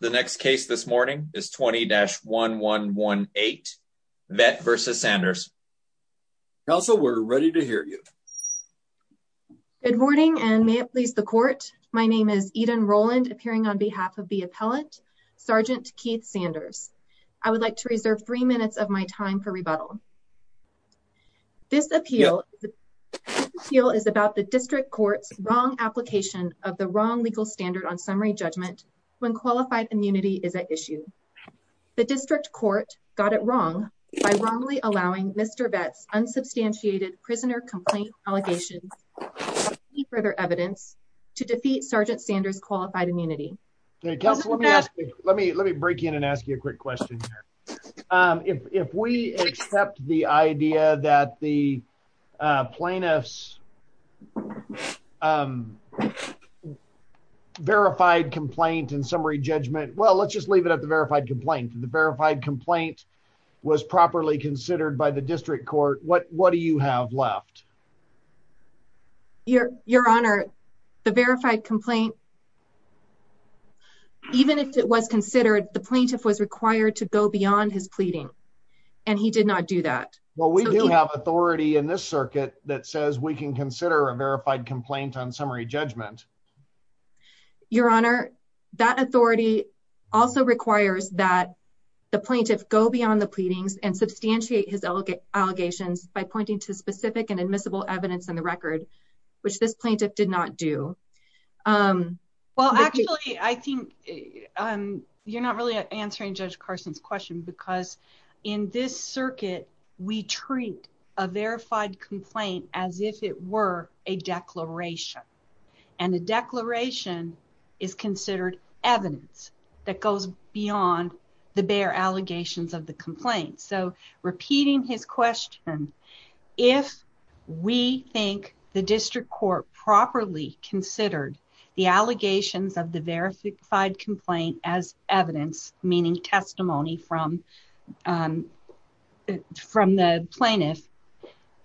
The next case this morning is 20-1118, Vette v. Sanders. Counsel, we're ready to hear you. Good morning, and may it please the court, my name is Eden Rowland, appearing on behalf of the appellant, Sgt. Keith Sanders. I would like to reserve three minutes of my time for rebuttal. This appeal is about the district court's wrong application of the wrong legal standard on summary judgment when qualified immunity is at issue. The district court got it wrong by wrongly allowing Mr. Vette's unsubstantiated prisoner complaint allegations to be further evidence to defeat Sgt. Sanders' qualified immunity. Counsel, let me break in and ask you a quick question here. If we accept the idea that the plaintiff's verified complaint and summary judgment, well, let's just leave it at the verified complaint, the verified complaint was properly considered by the district court, what do you have left? Your Honor, the verified complaint, even if it was considered, the plaintiff was required to go beyond his pleading, and he did not do that. Well, we do have authority in this circuit that says we can consider a verified complaint on summary judgment. Your Honor, that authority also requires that the plaintiff go beyond the pleadings and substantiate his allegations by pointing to specific and admissible evidence in the record, which this plaintiff did not do. Well, actually, I think you're not really answering Judge Carson's question because in this circuit, we treat a verified complaint as if it were a declaration, and the declaration is considered evidence that goes beyond the bare allegations of the complaint. So, repeating his question, if we think the district court properly considered the allegations of the verified complaint as evidence, meaning testimony from the plaintiff,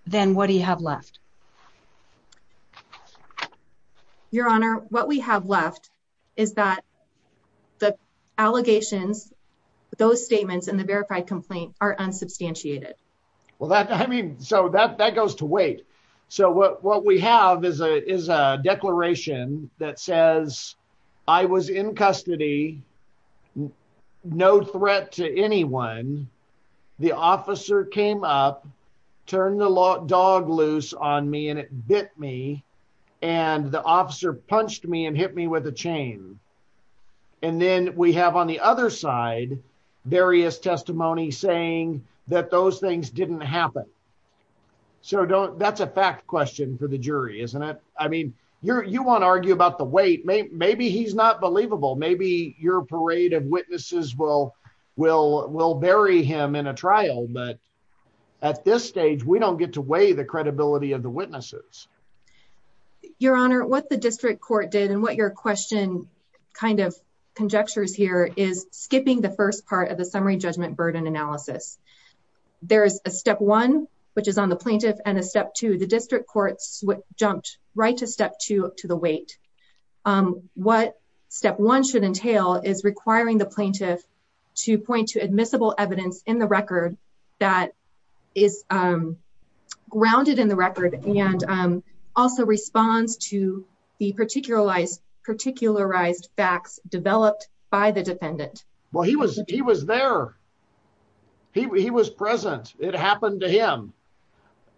then what do you have left? Your Honor, what we have left is that the allegations, those statements in the verified complaint are unsubstantiated. So, that goes to wait. So, what we have is a declaration that says, I was in custody, no threat to anyone, the officer came up, turned the dog loose on me, and it bit me, and the officer punched me and hit me with a chain. And then we have on the other side, various testimony saying that those things didn't happen. So, that's a fact question for the jury, isn't it? I mean, you want to argue about the wait. Maybe he's not believable. Maybe your parade of witnesses will bury him in a trial, but at this stage, we don't get to weigh the credibility of the witnesses. Your Honor, what the district court did, and what your question kind of conjectures here, is skipping the first part of the summary judgment burden analysis. There's a step one, which is on the plaintiff, and a step two. The district court jumped right to step two, to the wait. What step one should entail is requiring the plaintiff to point to admissible evidence in the record that is grounded in the record, and also responds to the particularized facts developed by the defendant. Well, he was there. He was present. It happened to him.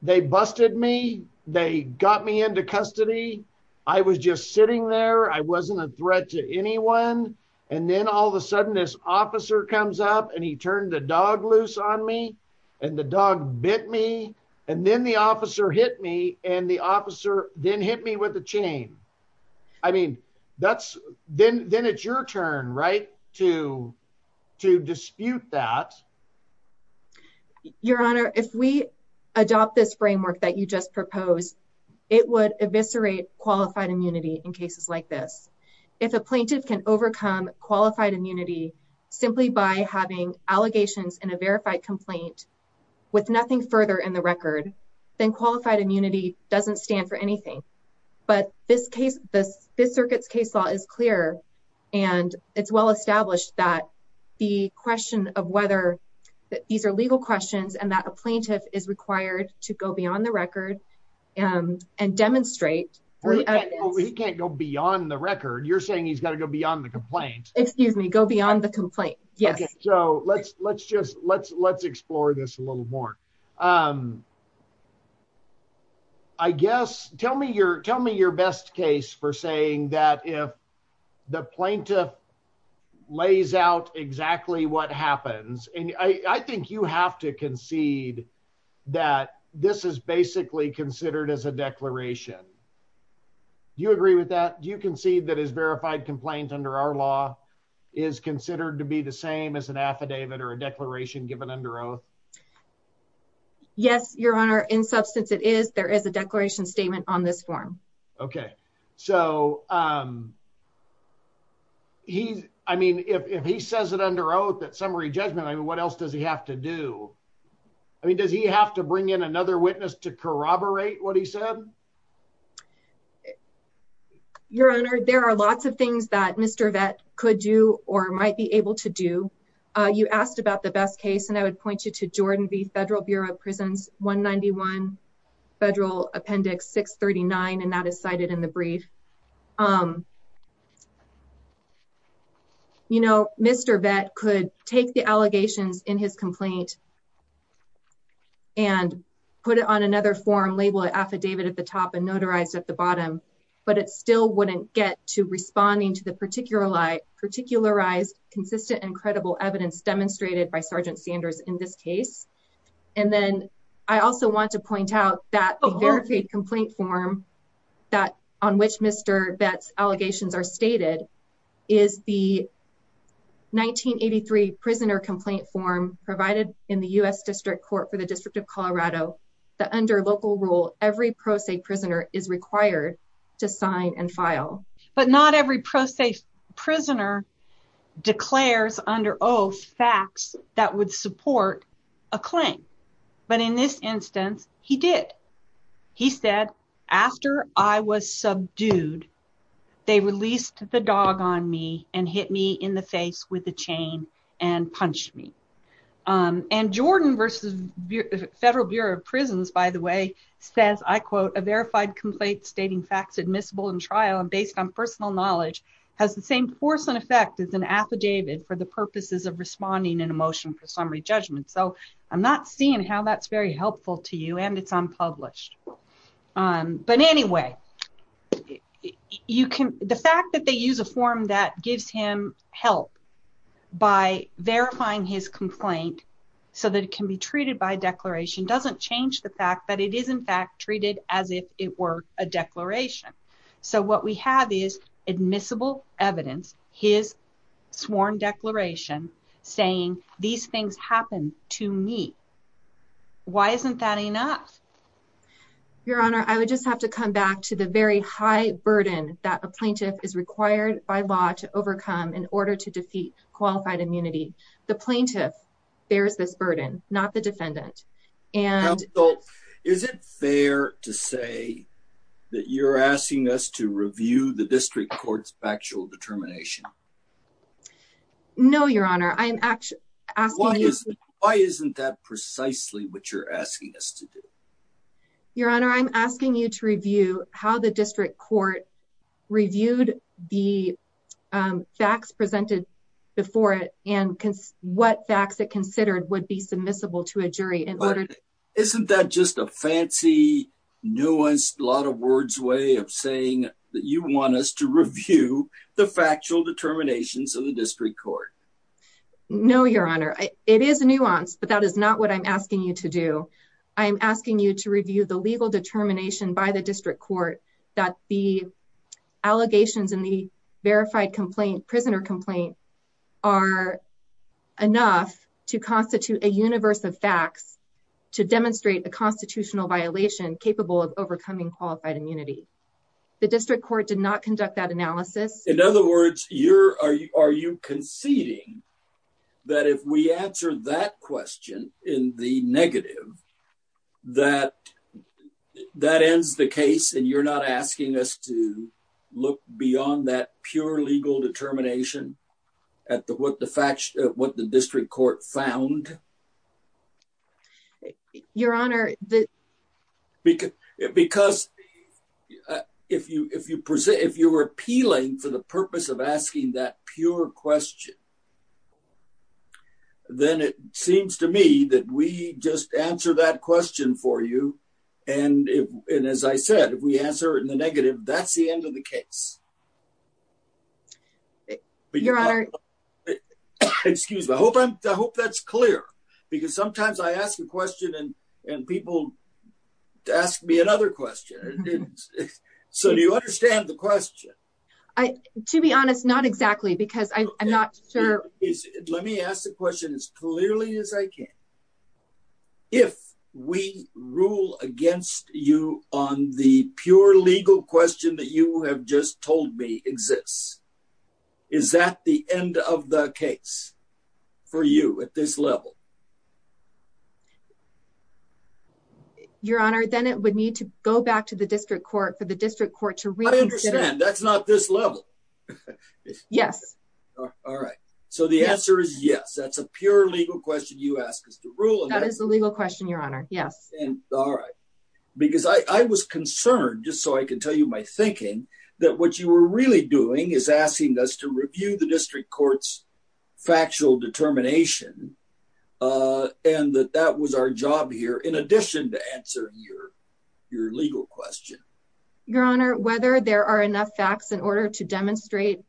They busted me. They got me into custody. I was just sitting there. I wasn't a threat to anyone, and then all of a sudden, this officer comes up, and he turned the dog loose on me, and the dog bit me, and then the officer hit me, and the officer then hit me with a chain. I mean, then it's your turn, right, to dispute that. Your Honor, if we adopt this framework that you just proposed, it would eviscerate qualified immunity in cases like this. If a plaintiff can overcome qualified immunity simply by having allegations in a verified complaint with nothing further in the record, then qualified immunity doesn't stand for anything. But this circuit's case law is clear, and it's well established that the question of whether these are legal questions and that a plaintiff is required to go beyond the record and demonstrate. He can't go beyond the record. You're saying he's got to go beyond the complaint. Excuse me. Go beyond the complaint. Yes. So let's explore this a little more. I guess, tell me your best case for saying that if the plaintiff lays out exactly what happens, and I think you have to concede that this is basically considered as a declaration. Do you agree with that? Do you concede that his verified complaint under our law is considered to be the same as an affidavit or a declaration given under oath? Yes, Your Honor. In substance, it is. There is a declaration statement on this form. Okay. So, I mean, if he says it under oath at summary judgment, I mean, what else does he have to do? I mean, does he have to bring in another witness to corroborate what he said? Your Honor, there are lots of things that Mr. Vett could do or might be able to do. You asked about the best case, and I would point you to Jordan V Federal Bureau of Prisons 191 Federal Appendix 639, and that is cited in the brief. You know, Mr. Vett could take the allegations in his complaint and put it on another form labeled affidavit at the top and notarized at the bottom, but it still wouldn't get to responding to the particularized consistent and credible evidence demonstrated by Sergeant Sanders in this case. And then I also want to point out that the verified complaint form on which Mr. Vett's allegations are stated is the 1983 prisoner complaint form provided in the U.S. District Court for the District of Colorado that under local rule, every pro se prisoner is required to sign and file. But not every pro se prisoner declares under oath facts that would support a claim. But in this instance, he did. He said, after I was subdued, they released the dog on me and hit me in the face with a chain and punched me. And Jordan V Federal Bureau of Prisons, by the way, says, I quote, a verified complaint stating facts admissible in trial and based on personal knowledge has the same force and effect as an affidavit for the purposes of responding in a motion for summary judgment. So I'm not seeing how that's very helpful to you and it's unpublished. But anyway, you can the fact that they use a form that gives him help by verifying his complaint so that it can be treated by declaration doesn't change the fact that it is in fact treated as if it were a declaration. So what we have is admissible evidence. His sworn declaration saying these things happen to me. Why isn't that enough? Your Honor, I would just have to come back to the very high burden that a plaintiff is required by law to overcome in order to defeat qualified immunity. The plaintiff bears this burden, not the defendant. And so is it fair to say that you're asking us to review the district court's factual determination? No, Your Honor. I am actually asking. Why isn't that precisely what you're asking us to do? Your Honor, I'm asking you to review how the district court reviewed the facts presented before it and what facts it considered would be submissible to a jury in order. Isn't that just a fancy nuanced lot of words way of saying that you want us to review the factual determinations of the district court? No, Your Honor. It is a nuance, but that is not what I'm asking you to do. I'm asking you to review the legal determination by the district court that the allegations in the verified complaint prisoner complaint are enough to constitute a universe of facts to demonstrate the constitutional violation capable of overcoming qualified immunity. The district court did not conduct that analysis. In other words, are you conceding that if we answer that question in the negative, that that ends the case and you're not asking us to look beyond that pure legal determination at what the district court found? Your Honor. Because if you were appealing for the purpose of asking that pure question, then it seems to me that we just answer that question for you. And as I said, if we answer it in the negative, that's the end of the case. Your Honor. Excuse me. I hope that's clear because sometimes I ask a question and people ask me another question. So do you understand the question? To be honest, not exactly because I'm not sure. Let me ask the question as clearly as I can. If we rule against you on the pure legal question that you have just told me exists, is that the end of the case for you at this level? Your Honor, then it would need to go back to the district court for the district court to read. I understand. That's not this level. Yes. All right. So the answer is yes. That's a pure legal question. You ask us to rule. That is the legal question, Your Honor. Yes. All right. Because I was concerned, just so I can tell you my thinking, that what you were really doing is asking us to review the district court's factual determination and that that was our job here in addition to answer your legal question. Your Honor, whether there are enough facts in order to demonstrate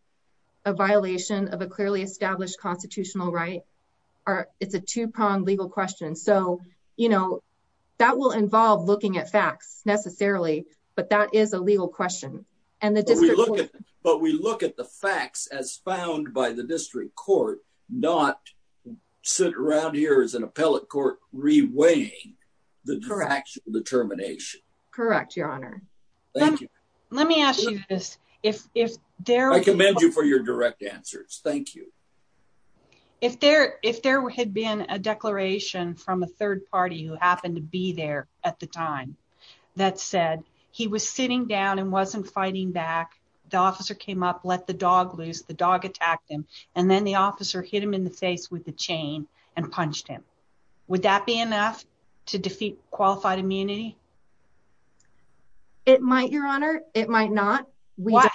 a violation of a clearly established constitutional right, it's a two-pronged legal question. So, you know, that will involve looking at facts necessarily, but that is a legal question. But we look at the facts as found by the district court, not sit around here as an appellate court reweighing the factual determination. Correct, Your Honor. Let me ask you this. I commend you for your direct answers. Thank you. If there had been a declaration from a third party who happened to be there at the time that said he was sitting down and wasn't fighting back, the officer came up, let the dog loose, the dog attacked him, and then the officer hit him in the face with a chain and punched him. Would that be enough to defeat qualified immunity? It might, Your Honor. It might not.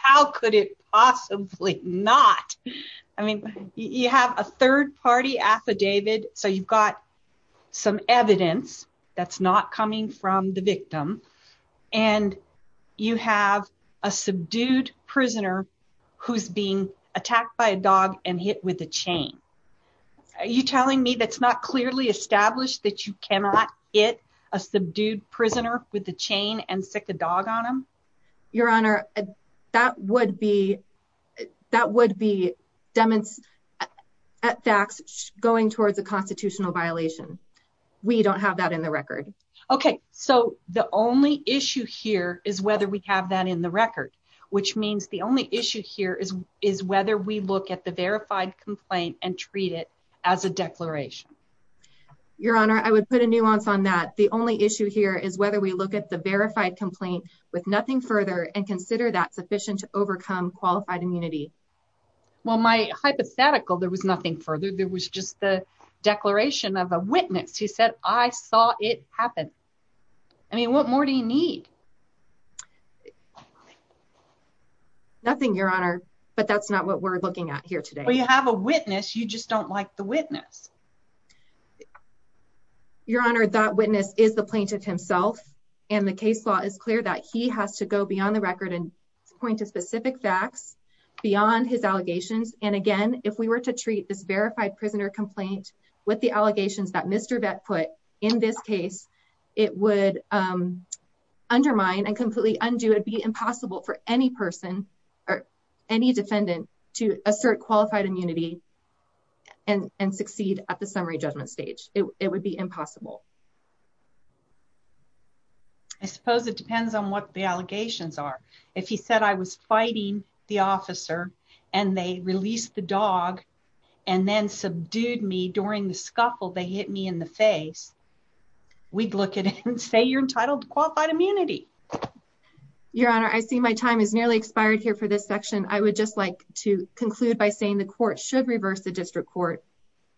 How could it possibly not? I mean, you have a third party affidavit, so you've got some evidence that's not coming from the victim, and you have a subdued prisoner who's being attacked by a dog and hit with a chain. Are you telling me that's not clearly established that you cannot hit a subdued prisoner with a chain and stick a dog on him? Your Honor, that would be going towards a constitutional violation. We don't have that in the record. Okay, so the only issue here is whether we have that in the record, which means the only issue here is whether we look at the verified complaint and treat it as a declaration. Your Honor, I would put a nuance on that. The only issue here is whether we look at the verified complaint with nothing further and consider that sufficient to overcome qualified immunity. Well, my hypothetical, there was nothing further. There was just the declaration of a witness. He said, I saw it happen. I mean, what more do you need? Nothing, Your Honor, but that's not what we're looking at here today. Well, you have a witness. You just don't like the witness. Your Honor, that witness is the plaintiff himself, and the case law is clear that he has to go beyond the record and point to specific facts beyond his allegations. And again, if we were to treat this verified prisoner complaint with the allegations that Mr. Vett put in this case, it would undermine and completely undo. It would be impossible for any person or any defendant to assert qualified immunity and succeed at the summary judgment stage. It would be impossible. I suppose it depends on what the allegations are. If he said I was fighting the officer and they released the dog and then subdued me during the scuffle, they hit me in the face, we'd look at it and say you're entitled to qualified immunity. Your Honor, I see my time is nearly expired here for this section. I would just like to conclude by saying the court should reverse the district court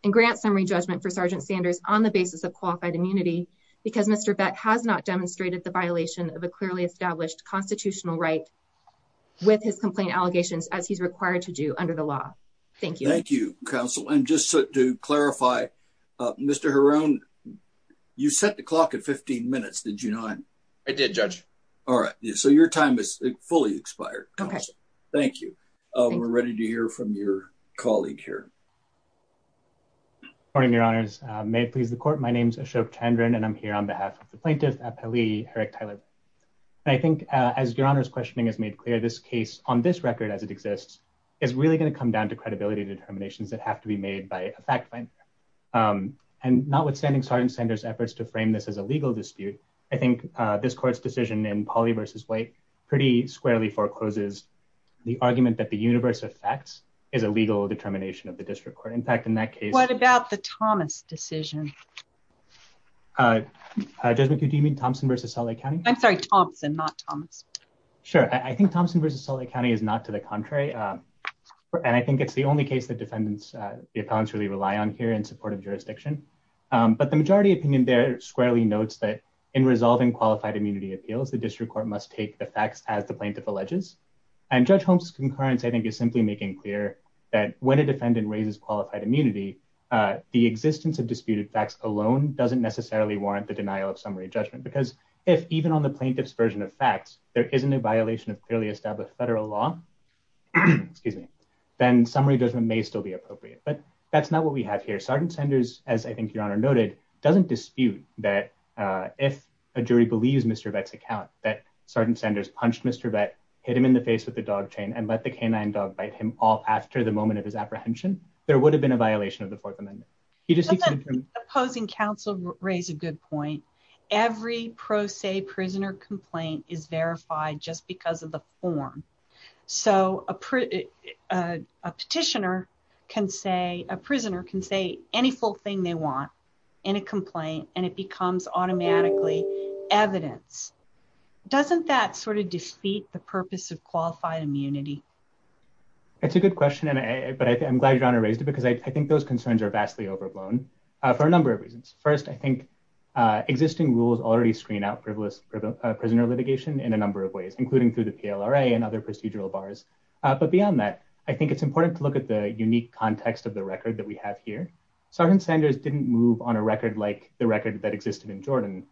and grant summary judgment for Sergeant Sanders on the basis of qualified immunity. Because Mr. Vett has not demonstrated the violation of a clearly established constitutional right with his complaint allegations as he's required to do under the law. Thank you. Thank you, Counsel. And just to clarify, Mr. Harone, you set the clock at 15 minutes, did you not? I did, Judge. Your time is fully expired, Counsel. Thank you. We're ready to hear from your colleague here. Good morning, Your Honors. May it please the court, my name is Ashok Chandran and I'm here on behalf of the plaintiff, Appellee Eric Tyler. I think as Your Honor's questioning has made clear, this case, on this record as it exists, is really going to come down to credibility determinations that have to be made by a fact finder. And notwithstanding Sergeant Sanders' efforts to frame this as a legal dispute, I think this court's decision in Pauley v. White pretty squarely forecloses the argument that the universe of facts is a legal determination of the district court. What about the Thomas decision? Judge McHugh, do you mean Thompson v. Salt Lake County? I'm sorry, Thompson, not Thomas. Sure, I think Thompson v. Salt Lake County is not to the contrary, and I think it's the only case the defendants, the appellants really rely on here in support of jurisdiction. But the majority opinion there squarely notes that in resolving qualified immunity appeals, the district court must take the facts as the plaintiff alleges. And Judge Holmes' concurrence, I think, is simply making clear that when a defendant raises qualified immunity, the existence of disputed facts alone doesn't necessarily warrant the denial of summary judgment. Because if, even on the plaintiff's version of facts, there isn't a violation of clearly established federal law, then summary judgment may still be appropriate. But that's not what we have here. Sergeant Sanders, as I think Your Honor noted, doesn't dispute that if a jury believes Mr. Vett's account that Sergeant Sanders punched Mr. Vett, hit him in the face with a dog chain, and let the canine dog bite him all after the moment of his apprehension, there would have been a violation of the Fourth Amendment. Doesn't opposing counsel raise a good point? Every pro se prisoner complaint is verified just because of the form. So a petitioner can say, a prisoner can say any full thing they want in a complaint, and it becomes automatically evidence. Doesn't that sort of defeat the purpose of qualified immunity? That's a good question, but I'm glad Your Honor raised it because I think those concerns are vastly overblown for a number of reasons. First, I think existing rules already screen out privileged prisoner litigation in a number of ways, including through the PLRA and other procedural bars. But beyond that, I think it's important to look at the unique context of the record that we have here. Sergeant Sanders didn't move on a record like the record that existed in Jordan,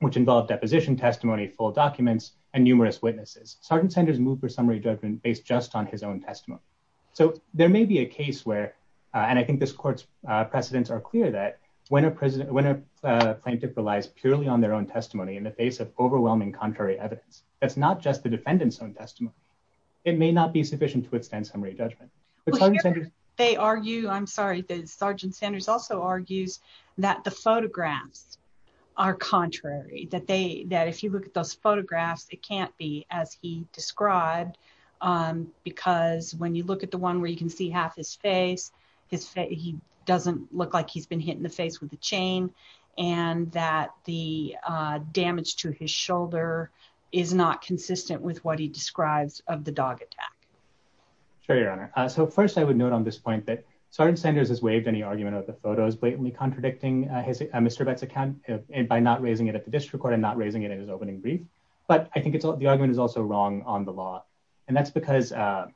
which involved deposition testimony, full documents, and numerous witnesses. Sergeant Sanders moved for summary judgment based just on his own testimony. So there may be a case where, and I think this court's precedents are clear, that when a plaintiff relies purely on their own testimony in the face of overwhelming contrary evidence, that's not just the defendant's own testimony. It may not be sufficient to withstand summary judgment. They argue, I'm sorry, Sergeant Sanders also argues that the photographs are contrary, that if you look at those photographs, it can't be as he described, because when you look at the one where you can see half his face, he doesn't look like he's been hit in the face with a chain, and that the damage to his shoulder is not consistent with what he describes of the dog attack. Sure, Your Honor. So first I would note on this point that Sergeant Sanders has waived any argument of the photos blatantly contradicting Mr. Bette's account by not raising it at the district court and not raising it in his opening brief. But I think the argument is also wrong on the law. And that's because, sorry,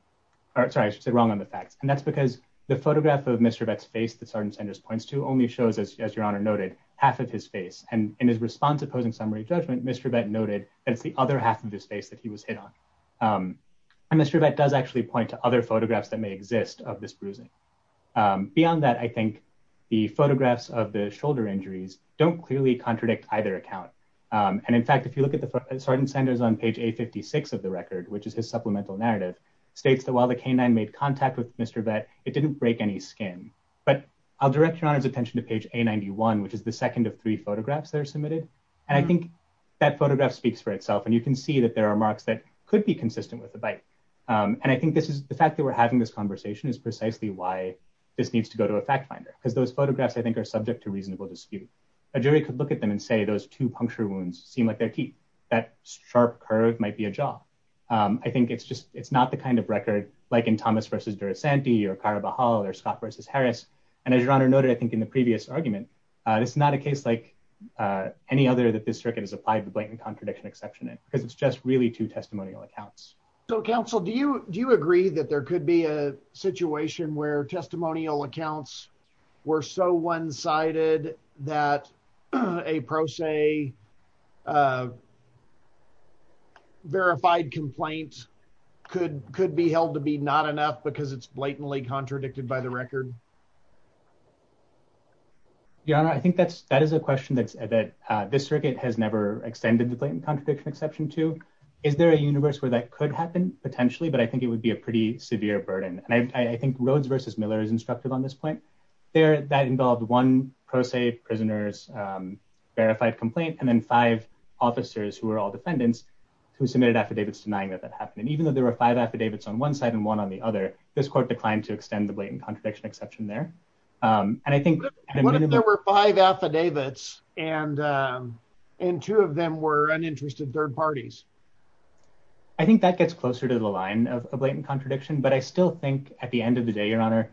I should say wrong on the facts. And that's because the photograph of Mr. Bette's face that Sergeant Sanders points to only shows, as Your Honor noted, half of his face. And in his response to posing summary judgment, Mr. Bette noted that it's the other half of his face that he was hit on. And Mr. Bette does actually point to other photographs that may exist of this bruising. Beyond that, I think the photographs of the shoulder injuries don't clearly contradict either account. And in fact, if you look at the Sergeant Sanders on page A56 of the record, which is his supplemental narrative, states that while the canine made contact with Mr. Bette, it didn't break any skin. But I'll direct Your Honor's attention to page A91, which is the second of three photographs that are submitted. And I think that photograph speaks for itself. And you can see that there are marks that could be consistent with the bite. And I think this is the fact that we're having this conversation is precisely why this needs to go to a fact finder, because those photographs I think are subject to reasonable dispute. A jury could look at them and say those two puncture wounds seem like their teeth. That sharp curve might be a jaw. I think it's just it's not the kind of record like in Thomas versus Durasanti or Carabajal or Scott versus Harris. And as Your Honor noted, I think in the previous argument, it's not a case like any other that this circuit has applied the blatant contradiction exception, because it's just really two testimonial accounts. So, counsel, do you do you agree that there could be a situation where testimonial accounts were so one sided that a pro se verified complaints could could be held to be not enough because it's blatantly contradicted by the record? Your Honor, I think that's that is a question that this circuit has never extended the blatant contradiction exception to. Is there a universe where that could happen, potentially, but I think it would be a pretty severe burden. And I think Rhodes versus Miller is instructive on this point there that involved one pro se prisoners verified complaint and then five officers who are all defendants who submitted affidavits denying that that happened. And even though there were five affidavits on one side and one on the other, this court declined to extend the blatant contradiction exception there. And I think there were five affidavits and and two of them were uninterested third parties. I think that gets closer to the line of blatant contradiction. But I still think at the end of the day, Your Honor,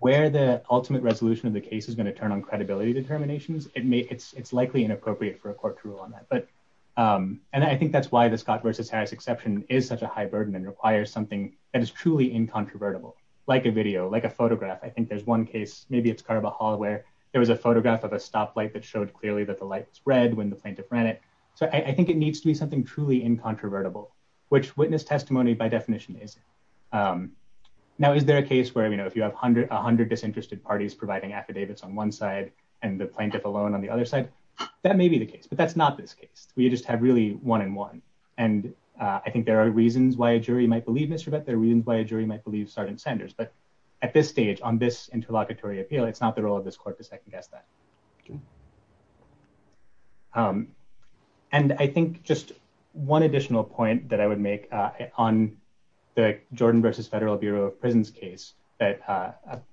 where the ultimate resolution of the case is going to turn on credibility determinations. It's likely inappropriate for a court to rule on that. But and I think that's why the Scott versus Harris exception is such a high burden and requires something that is truly incontrovertible, like a video, like a photograph. I think there's one case, maybe it's Carver Hall, where there was a photograph of a stoplight that showed clearly that the light spread when the plaintiff ran it. So I think it needs to be something truly incontrovertible, which witness testimony by definition is. Now, is there a case where, you know, if you have a hundred disinterested parties providing affidavits on one side and the plaintiff alone on the other side, that may be the case, but that's not this case. We just have really one in one. And I think there are reasons why a jury might believe Mr. But there are reasons why a jury might believe Sergeant Sanders. But at this stage on this interlocutory appeal, it's not the role of this court to second guess that. And I think just one additional point that I would make on the Jordan versus Federal Bureau of Prisons case that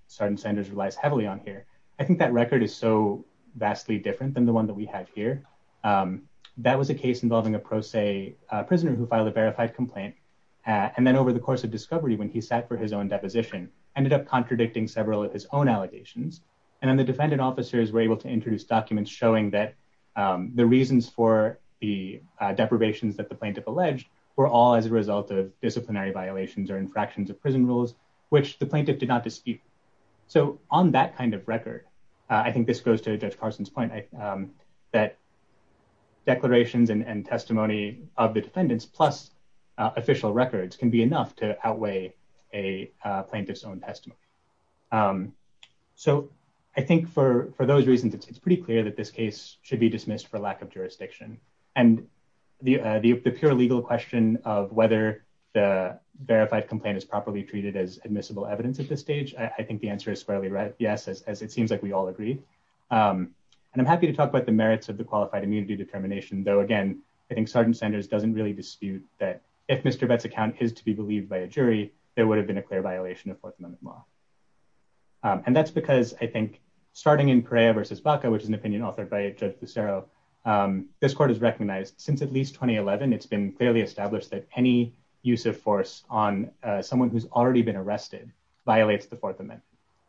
Sergeant Sanders relies heavily on here. I think that record is so vastly different than the one that we have here. That was a case involving a pro se prisoner who filed a verified complaint. And then over the course of discovery, when he sat for his own deposition, ended up contradicting several of his own allegations. And then the defendant officers were able to introduce documents showing that the reasons for the deprivations that the plaintiff alleged were all as a result of disciplinary violations or infractions of prison rules, which the plaintiff did not dispute. So on that kind of record, I think this goes to Judge Carson's point that declarations and testimony of the defendants plus official records can be enough to outweigh a plaintiff's own testimony. So I think for those reasons, it's pretty clear that this case should be dismissed for lack of jurisdiction. And the pure legal question of whether the verified complaint is properly treated as admissible evidence at this stage, I think the answer is squarely yes, as it seems like we all agree. And I'm happy to talk about the merits of the qualified immunity determination, though. Again, I think Sergeant Sanders doesn't really dispute that. If Mr. Betts' account is to be believed by a jury, there would have been a clear violation of Fourth Amendment law. And that's because I think starting in Perea versus Baca, which is an opinion authored by Judge Lucero, this court has recognized since at least 2011, it's been clearly established that any use of force on someone who's already been arrested violates the Fourth Amendment.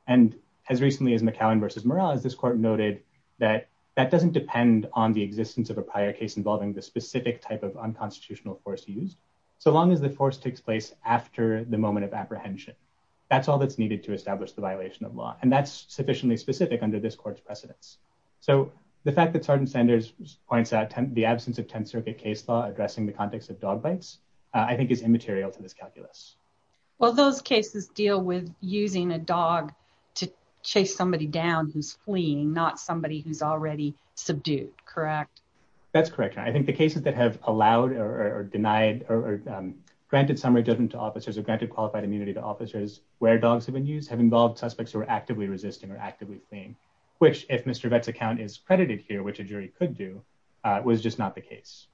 And as recently as McCowan versus Murrell, as this court noted, that that doesn't depend on the existence of a prior case involving the specific type of unconstitutional force used. So long as the force takes place after the moment of apprehension, that's all that's needed to establish the violation of law. And that's sufficiently specific under this court's precedence. So the fact that Sergeant Sanders points out the absence of Tenth Circuit case law addressing the context of dog bites, I think is immaterial to this calculus. Well, those cases deal with using a dog to chase somebody down who's fleeing, not somebody who's already subdued, correct? That's correct. I think the cases that have allowed or denied or granted summary judgment to officers or granted qualified immunity to officers where dogs have been used have involved suspects who are actively resisting or actively fleeing, which, if Mr. Betts' account is credited here, which a jury could do, was just not the case.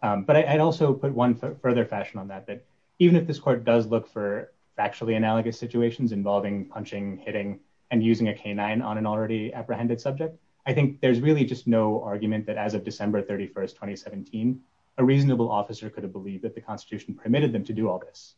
But I'd also put one further fashion on that, that even if this court does look for factually analogous situations involving punching, hitting, and using a canine on an already apprehended subject, I think there's really just no argument that as of December 31, 2017, a reasonable officer could have believed that the Constitution permitted them to do all this.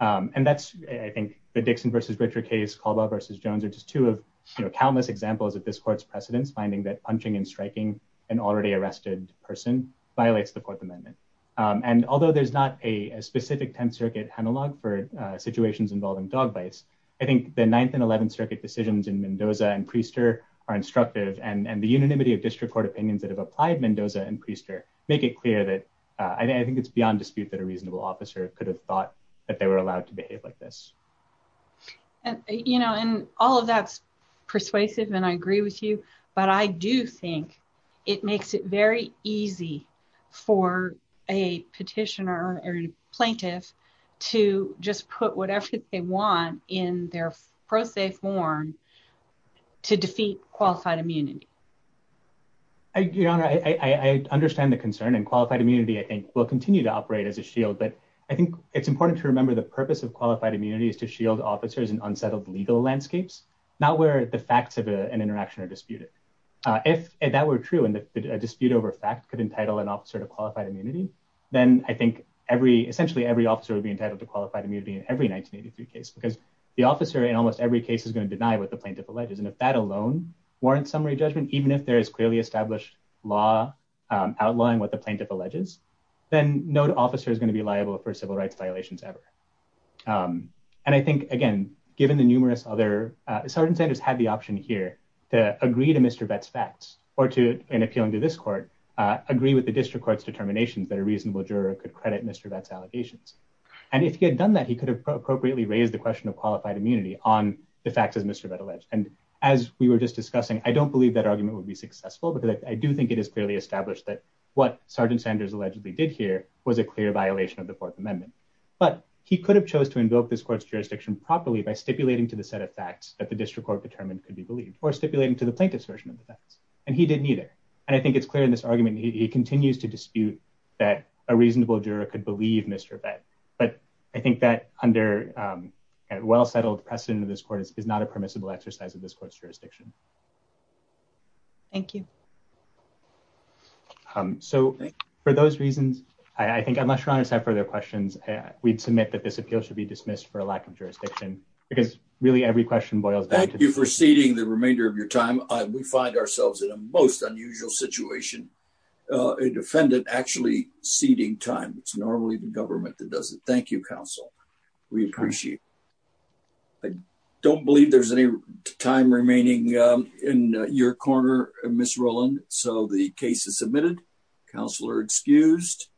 And that's, I think, the Dixon v. Richard case, Caldwell v. Jones are just two of countless examples of this court's precedence, finding that punching and striking an already arrested person violates the Fourth Amendment. And although there's not a specific Tenth Circuit analog for situations involving dog bites, I think the Ninth and Eleventh Circuit decisions in Mendoza and Priester are instructive, and the unanimity of district court opinions that have applied Mendoza and Priester make it clear that I think it's beyond dispute that a reasonable officer could have thought that they were allowed to behave like this. And, you know, and all of that's persuasive and I agree with you, but I do think it makes it very easy for a petitioner or plaintiff to just put whatever they want in their pro se form to defeat qualified immunity. Your Honor, I understand the concern and qualified immunity, I think, will continue to operate as a shield, but I think it's important to remember the purpose of qualified immunity is to shield officers in unsettled legal landscapes, not where the facts of an interaction are disputed. If that were true and a dispute over fact could entitle an officer to qualified immunity, then I think every, essentially every officer would be entitled to qualified immunity in every 1983 case because the officer in almost every case is going to deny what the plaintiff alleges. And if that alone warrants summary judgment, even if there is clearly established law outlawing what the plaintiff alleges, then no officer is going to be liable for civil rights violations ever. And I think, again, given the numerous other, Sergeant Sanders had the option here to agree to Mr. Vett's facts, or to, in appealing to this court, agree with the district court's determinations that a reasonable juror could credit Mr. Vett's allegations. And if he had done that, he could have appropriately raised the question of qualified immunity on the facts as Mr. Vett alleged. And as we were just discussing, I don't believe that argument would be successful because I do think it is clearly established that what Sergeant Sanders allegedly did here was a clear violation of the Fourth Amendment. But he could have chose to invoke this court's jurisdiction properly by stipulating to the set of facts that the district court determined could be believed, or stipulating to the plaintiff's version of the facts. And he didn't either. And I think it's clear in this argument that he continues to dispute that a reasonable juror could believe Mr. Vett. But I think that under a well-settled precedent of this court is not a permissible exercise of this court's jurisdiction. Thank you. So, for those reasons, I think unless your honors have further questions, we'd submit that this appeal should be dismissed for a lack of jurisdiction. Thank you for ceding the remainder of your time. We find ourselves in a most unusual situation. A defendant actually ceding time. It's normally the government that does it. Thank you, counsel. We appreciate it. I don't believe there's any time remaining in your corner, Ms. Rowland. So the case is submitted. Counsel are excused.